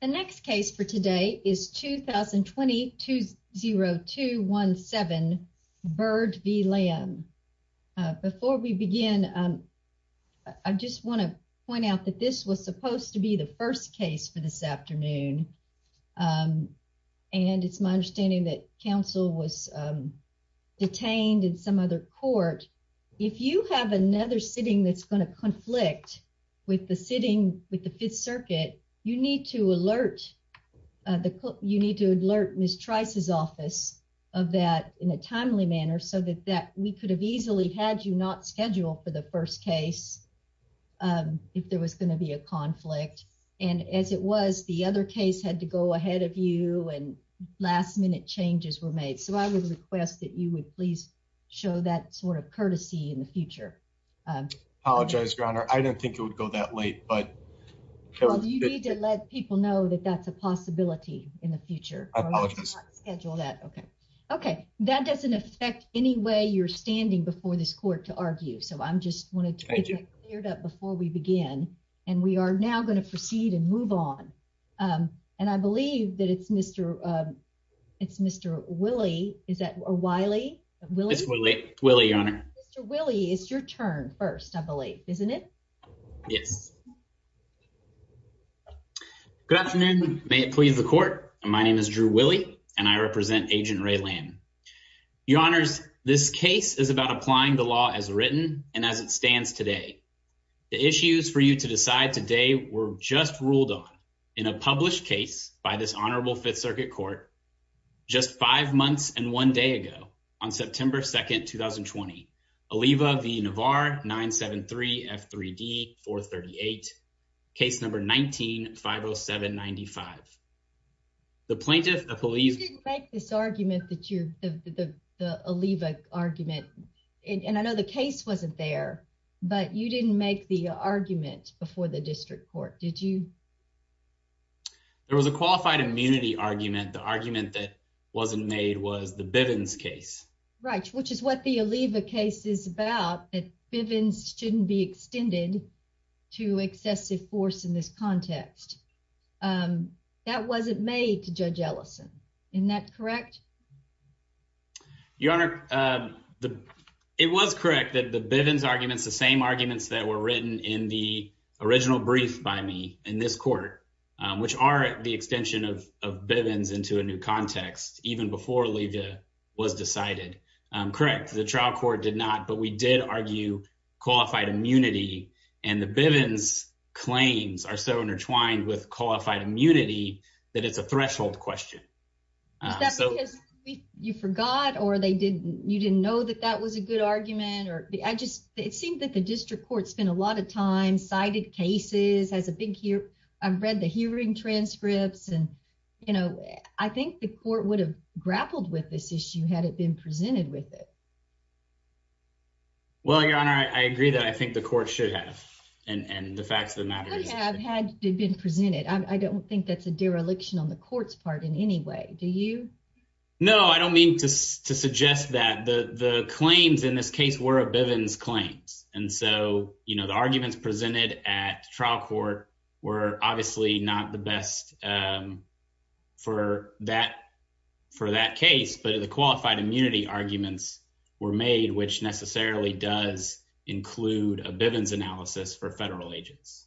The next case for today is 2020-20217, Byrd v. Lamb. Before we begin, I just want to point out that this was supposed to be the first case for this afternoon. And it's my understanding that counsel was detained in some other court. If you have another sitting that's going to conflict with the sitting with the Fifth Circuit, you need to alert Ms. Trice's office of that in a timely manner, so that we could have easily had you not scheduled for the first case if there was going to be a conflict. And as it was, the other case had to go ahead of you and last minute changes were made. So I would request that you would please show that sort of courtesy in the future. I apologize, Your Honor. I didn't think it would go that late. But you need to let people know that that's a possibility in the future. I'll schedule that. OK. OK. That doesn't affect any way you're standing before this court to argue. So I'm just wanted to get cleared up before we begin. And we are now going to proceed and move on. And I believe that it's Mr. It's Mr. Willie. Is that Wiley? Willie. Willie, Your Honor. Mr. Willie, it's your turn first, I believe, isn't it? Yes. Good afternoon. May it please the court. My name is Drew Willie and I represent Agent Ray Land. Your Honors, this case is about applying the law as written and as it stands today. The issues for you to decide today were just ruled on in a published case by this honorable Fifth Circuit court. Just five months and one day ago, on September 2nd, 2020, Aliva v. Navarre, 973 F3D 438, case number 19-507-95. The plaintiff, the police. You didn't make this argument that you the Aliva argument. And I know the case wasn't there, but you didn't make the argument before the district court, did you? There was a qualified immunity argument. The argument that wasn't made was the Bivens case. Right. Which is what the Aliva case is about. Bivens shouldn't be extended to excessive force in this context. That wasn't made to Judge Ellison. Isn't that correct? Your Honor, it was correct that the Bivens arguments, the same arguments that were written in the original brief by me in this court, which are the extension of Bivens into a new context even before Aliva was decided. Correct. The trial court did not. But we did argue qualified immunity. And the Bivens claims are so intertwined with qualified immunity that it's a threshold question. Is that because you forgot or you didn't know that that was a good argument? It seemed that the district court spent a lot of time citing cases. I've read the hearing transcripts and, you know, I think the court would have grappled with this issue had it been presented with it. Well, Your Honor, I agree that I think the court should have and the facts of the matter. I don't think that's a dereliction on the court's part in any way. Do you? No, I don't mean to suggest that the claims in this case were a Bivens claims. And so, you know, the arguments presented at trial court were obviously not the best for that for that case. But the qualified immunity arguments were made, which necessarily does include a Bivens analysis for federal agents.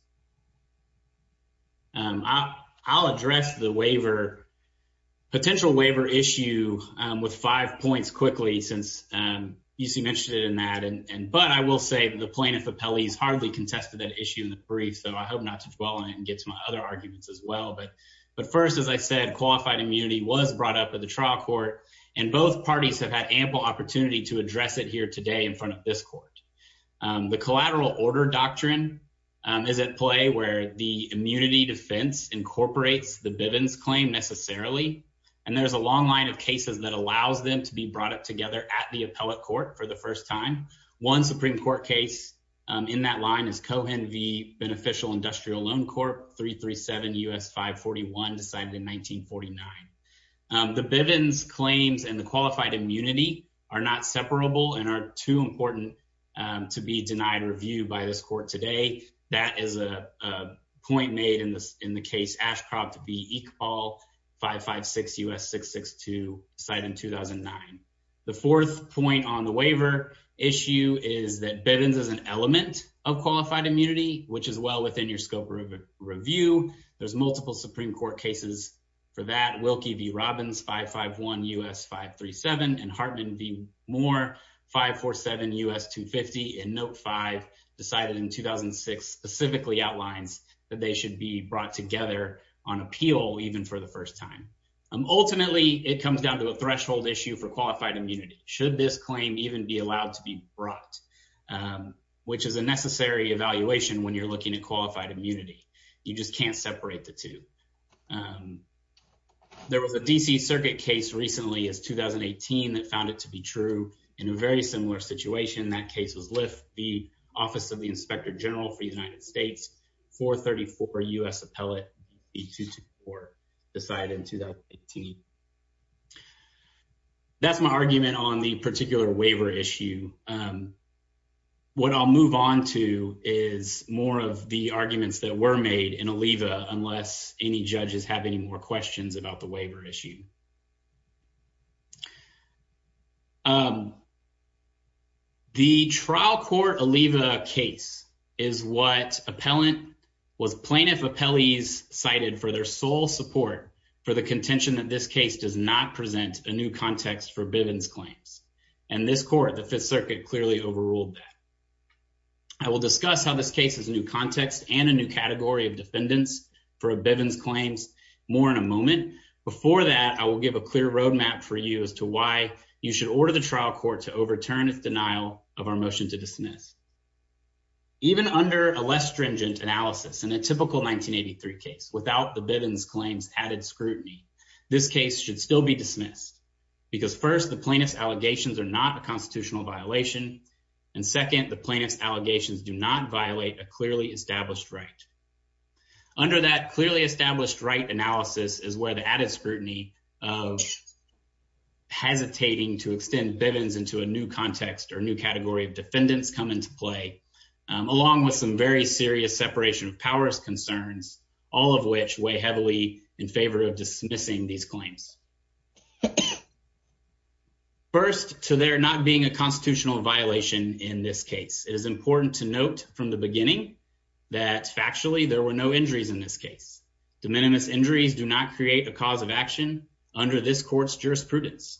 I'll address the waiver potential waiver issue with five points quickly since you mentioned it in that. And but I will say the plaintiff appellees hardly contested that issue in the brief. So I hope not to dwell on it and get some other arguments as well. But but first, as I said, qualified immunity was brought up at the trial court and both parties have had ample opportunity to address it here today in front of this court. The collateral order doctrine is at play where the immunity defense incorporates the Bivens claim necessarily. And there is a long line of cases that allows them to be brought up together at the appellate court for the first time. One Supreme Court case in that line is Cohen v. Beneficial Industrial Loan Corp. 337 U.S. 541, decided in 1949. The Bivens claims and the qualified immunity are not separable and are too important to be denied review by this court today. That is a point made in this in the case Ashcroft v. Equal 556 U.S. 662, decided in 2009. The fourth point on the waiver issue is that Bivens is an element of qualified immunity, which is well within your scope of review. There's multiple Supreme Court cases for that. Wilkie v. Robbins, 551 U.S. 537 and Hartman v. Moore, 547 U.S. 250 and Note 5, decided in 2006, specifically outlines that they should be brought together on appeal even for the first time. Ultimately, it comes down to a threshold issue for qualified immunity. Should this claim even be allowed to be brought, which is a necessary evaluation when you're looking at qualified immunity? You just can't separate the two. There was a D.C. circuit case recently as 2018 that found it to be true in a very similar situation. That case was Lift v. Office of the Inspector General for the United States, 434 U.S. Appellate v. 224, decided in 2018. That's my argument on the particular waiver issue. What I'll move on to is more of the arguments that were made in Aleeva, unless any judges have any more questions about the waiver issue. The trial court Aleeva case is what was plaintiff appellees cited for their sole support for the contention that this case does not present a new context for Bivens claims. And this court, the Fifth Circuit, clearly overruled that. I will discuss how this case is a new context and a new category of defendants for Bivens claims more in a moment. Before that, I will give a clear roadmap for you as to why you should order the trial court to overturn its denial of our motion to dismiss. Even under a less stringent analysis, in a typical 1983 case, without the Bivens claims added scrutiny, this case should still be dismissed. Because first, the plaintiff's allegations are not a constitutional violation. And second, the plaintiff's allegations do not violate a clearly established right. Under that clearly established right analysis is where the added scrutiny of hesitating to extend Bivens into a new context or new category of defendants come into play, along with some very serious separation of powers concerns, all of which weigh heavily in favor of dismissing these claims. First, to there not being a constitutional violation in this case, it is important to note from the beginning that factually there were no injuries in this case. De minimis injuries do not create a cause of action under this court's jurisprudence.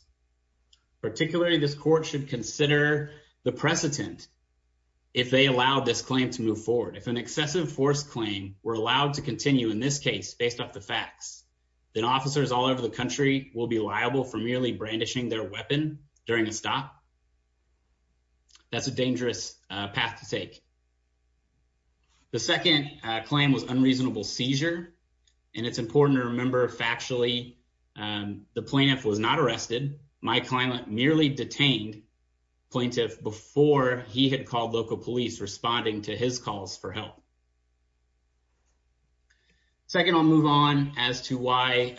Particularly this court should consider the precedent. If they allow this claim to move forward if an excessive force claim, we're allowed to continue in this case based off the facts that officers all over the country will be liable for merely brandishing their weapon during a stop. That's a dangerous path to take. The second claim was unreasonable seizure. And it's important to remember factually, the plaintiff was not arrested. My client merely detained plaintiff before he had called local police responding to his calls for help. Second, I'll move on as to why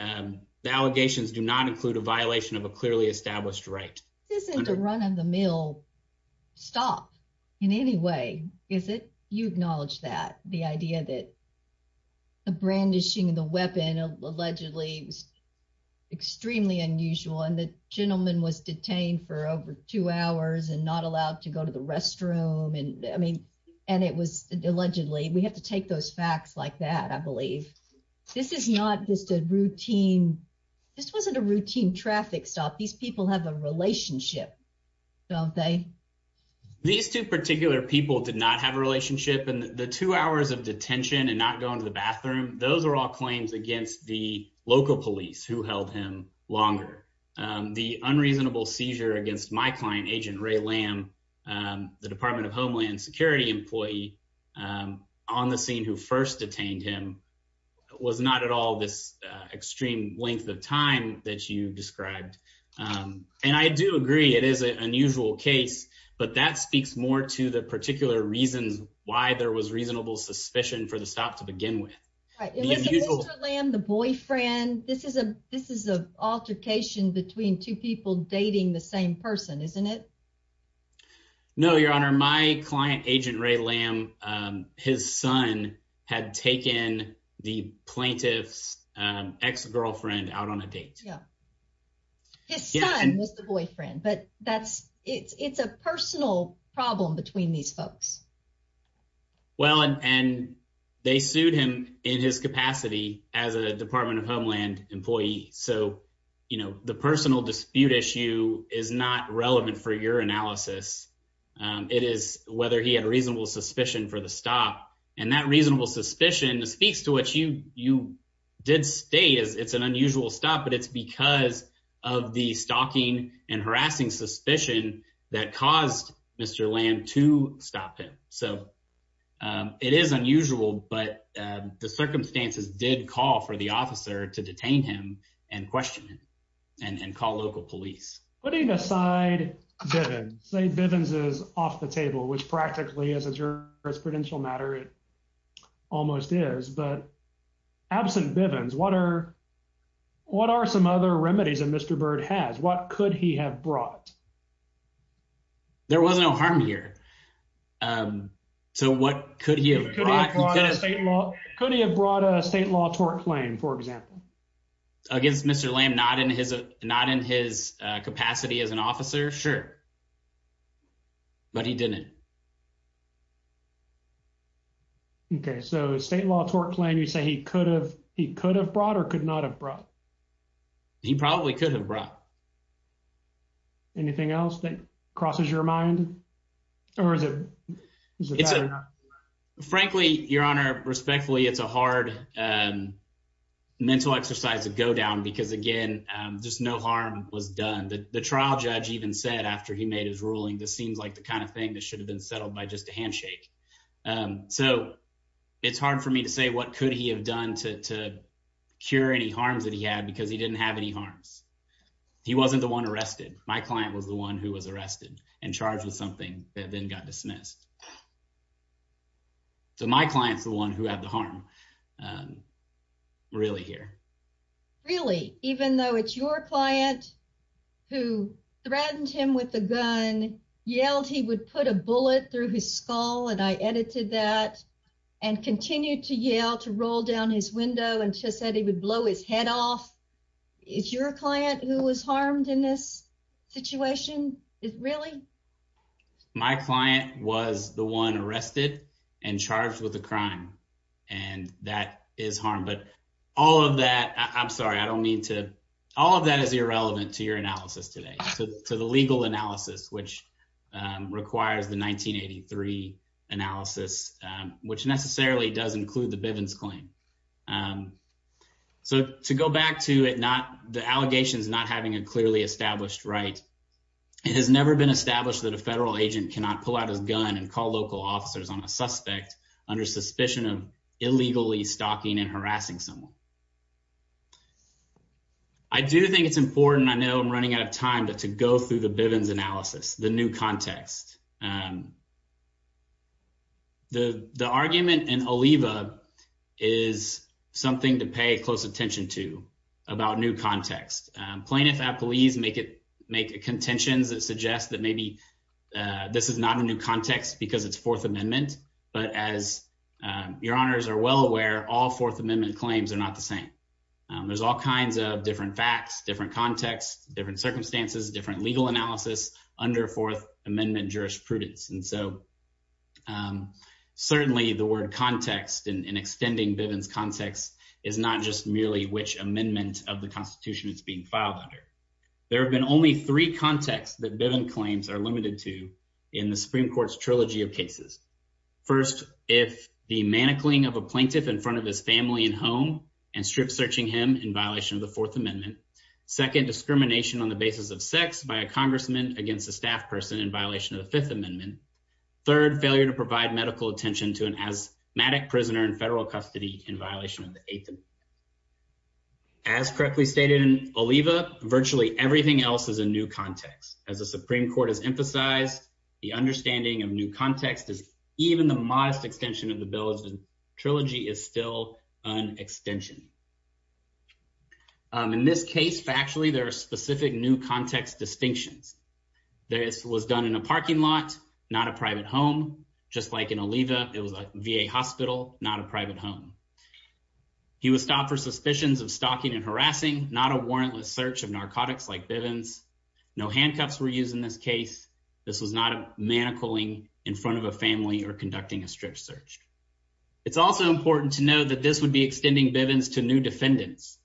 the allegations do not include a violation of a clearly established right. This isn't a run of the mill stop in any way, is it? You acknowledge that the idea that the brandishing of the weapon allegedly was extremely unusual and the gentleman was detained for over two hours and not allowed to go to the restroom and I mean, and it was allegedly we have to take those facts like that, I believe. This is not just a routine. This wasn't a routine traffic stop these people have a relationship. Don't they. These two particular people did not have a relationship and the two hours of detention and not going to the bathroom. Those are all claims against the local police who held him longer. The unreasonable seizure against my client agent Ray lamb, the Department of Homeland Security employee on the scene who first detained him was not at all this extreme length of time that you described. And I do agree it is an unusual case, but that speaks more to the particular reasons why there was reasonable suspicion for the stop to begin with. The boyfriend. This is a, this is a altercation between two people dating the same person, isn't it. No, your honor my client agent Ray lamb. His son had taken the plaintiffs ex girlfriend out on a date. His son was the boyfriend but that's it's it's a personal problem between these folks. Well, and they sued him in his capacity as a Department of Homeland employee. So, you know, the personal dispute issue is not relevant for your analysis. It is whether he had a reasonable suspicion for the stop and that reasonable suspicion speaks to what you, you did stay as it's an unusual stop but it's because of the stalking and harassing suspicion that caused Mr. Lamb to stop him. So it is unusual, but the circumstances did call for the officer to detain him and question and call local police. Putting aside, say Bivens is off the table which practically as a jurisprudential matter it almost is but absent Bivens water. What are some other remedies and Mr bird has what could he have brought. There was no harm here. So what could he have state law, could he have brought a state law tort claim for example, against Mr lamb not in his, not in his capacity as an officer. Sure. But he didn't. Okay, so state law tort claim you say he could have, he could have brought or could not have brought. He probably could have brought. Anything else that crosses your mind, or is it. Frankly, Your Honor respectfully it's a hard mental exercise to go down because again, just no harm was done that the trial judge even said after he made his ruling this seems like the kind of thing that should have been settled by just a handshake. So, it's hard for me to say what could he have done to cure any harms that he had because he didn't have any harms. He wasn't the one arrested, my client was the one who was arrested and charged with something that then got dismissed. So my clients, the one who had the harm. Really here. Really, even though it's your client who threatened him with a gun yelled he would put a bullet through his skull and I edited that and continue to yell to roll down his window and just said he would blow his head off. It's your client who was harmed in this situation is really my client was the one arrested and charged with a crime. And that is harm but all of that, I'm sorry I don't need to all of that is irrelevant to your analysis today to the legal analysis which requires the 1983 analysis, which necessarily does include the Bivens claim. So, to go back to it not the allegations not having a clearly established right. It has never been established that a federal agent cannot pull out his gun and call local officers on a suspect under suspicion of illegally stalking and harassing someone. I do think it's important I know I'm running out of time but to go through the Bivens analysis, the new context. The, the argument and Aliva is something to pay close attention to about new context plaintiff at police make it make a contentions that suggests that maybe this is not a new context because it's Fourth Amendment, but as your honors are well aware all Fourth Amendment claims are not the same. There's all kinds of different facts different context, different circumstances different legal analysis under Fourth Amendment jurisprudence and so certainly the word context and extending Bivens context is not just merely which amendment of the Constitution, it's being filed under. There have been only three contexts that Bivens claims are limited to in the Supreme Court's trilogy of cases. First, if the manicling of a plaintiff in front of his family and home and strip searching him in violation of the Fourth Amendment. Second discrimination on the basis of sex by a congressman against the staff person in violation of the Fifth Amendment. Third failure to provide medical attention to an asthmatic prisoner in federal custody in violation of the eighth. As correctly stated in Aliva virtually everything else is a new context as a Supreme Court has emphasized the understanding of new context is even the modest extension of the bill is trilogy is still an extension. In this case factually there are specific new context distinctions. This was done in a parking lot, not a private home, just like in Aliva, it was a VA hospital, not a private home. He was stopped for suspicions of stalking and harassing not a warrantless search of narcotics like Bivens no handcuffs were using this case. This was not a manicling in front of a family or conducting a strip search. It's also important to know that this would be extending Bivens to new defendants.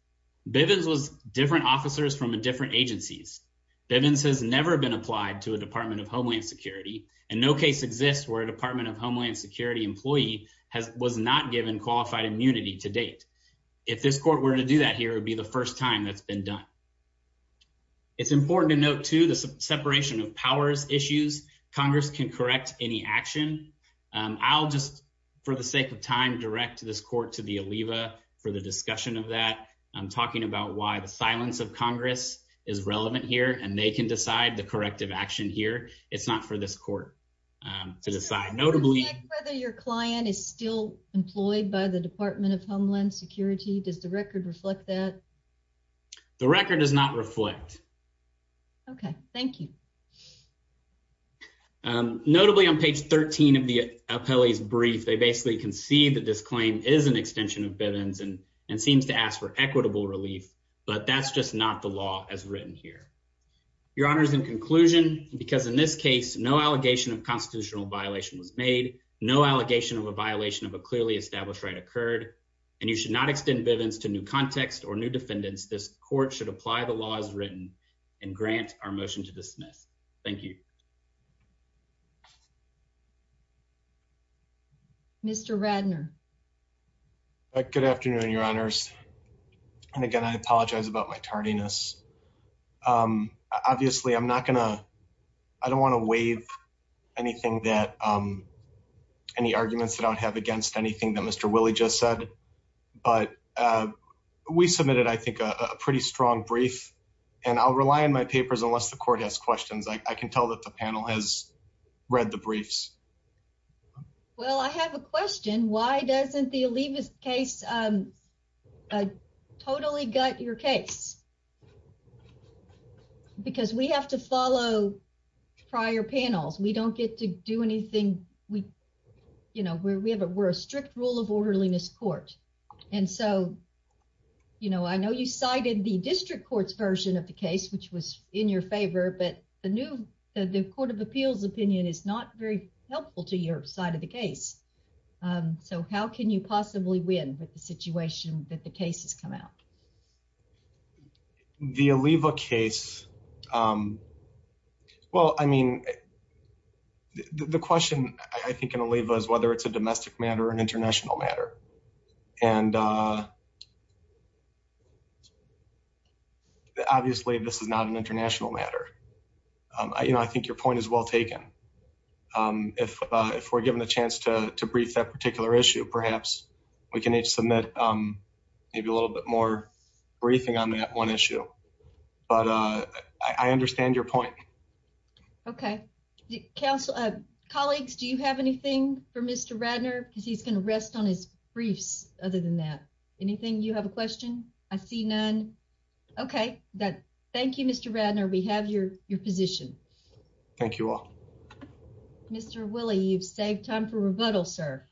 Bivens was different officers from a different agencies. Bivens has never been applied to a Department of Homeland Security and no case exists where a Department of Homeland Security employee has was not given qualified immunity to date. If this court were to do that here would be the first time that's been done. It's important to note to the separation of powers issues, Congress can correct any action. I'll just for the sake of time direct this court to the Aliva for the discussion of that I'm talking about why the silence of Congress is relevant here and they can decide the corrective action here. It's not for this court to decide notably whether your client is still employed by the Department of Homeland Security does the record reflect that the record does not reflect. Okay, thank you. Notably on page 13 of the appellees brief they basically can see that this claim is an extension of Bivens and and seems to ask for equitable relief, but that's just not the law as written here. Your Honor is in conclusion, because in this case, no allegation of constitutional violation was made no allegation of a violation of a clearly established right occurred, and you should not extend Bivens to new context or new defendants this court should apply the laws written and grant our motion to dismiss. Thank you. Mr Radnor. Good afternoon, your honors. And again, I apologize about my tardiness. Obviously, I'm not gonna. I don't want to waive anything that any arguments that I would have against anything that Mr Willie just said, but we submitted I think a pretty strong brief, and I'll rely on my papers unless the court has questions I can tell that the panel has read the briefs. Well, I have a question why doesn't the leave his case. I totally got your case, because we have to follow prior panels we don't get to do anything. We, you know, we have a we're a strict rule of orderliness court. And so, you know, I know you cited the district courts version of the case which was in your favor but the new the Court of Appeals opinion is not very helpful to your side of the case. So how can you possibly win with the situation that the cases come out. The Aliva case. Well, I mean, the question, I think, and Aliva is whether it's a domestic matter and international matter. And obviously this is not an international matter. I, you know, I think your point is well taken. If, if we're given the chance to brief that particular issue perhaps we can each submit. Maybe a little bit more briefing on that one issue. But I understand your point. Okay. Council of colleagues, do you have anything for Mr Radner because he's going to rest on his briefs. Other than that, anything you have a question. I see none. Okay, that. Thank you, Mr Radner we have your, your position. Thank you all. Mr Willie you've saved time for rebuttal, sir.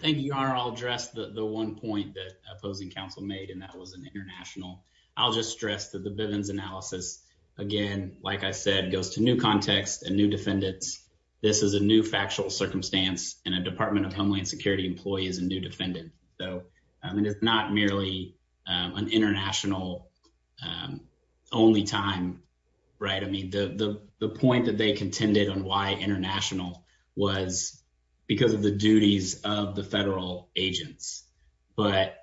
Thank you. I'll address the one point that opposing counsel made and that was an international. I'll just stress that the Bivens analysis. Again, like I said goes to new context and new defendants. This is a new factual circumstance in a Department of Homeland Security employees and new defendant, though, I mean it's not merely an international. Only time. Right. I mean, the, the, the point that they contended on why international was because of the duties of the federal agents. But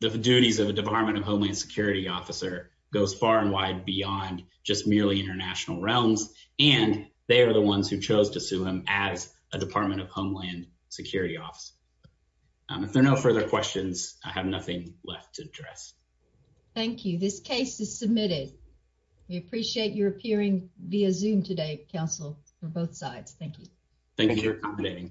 the duties of a Department of Homeland Security officer goes far and wide beyond just merely international realms, and they are the ones who chose to sue him as a Department of Homeland Security office. If there are no further questions, I have nothing left to address. Thank you. This case is submitted. We appreciate your appearing via zoom today, counsel for both sides. Thank you. Thank you.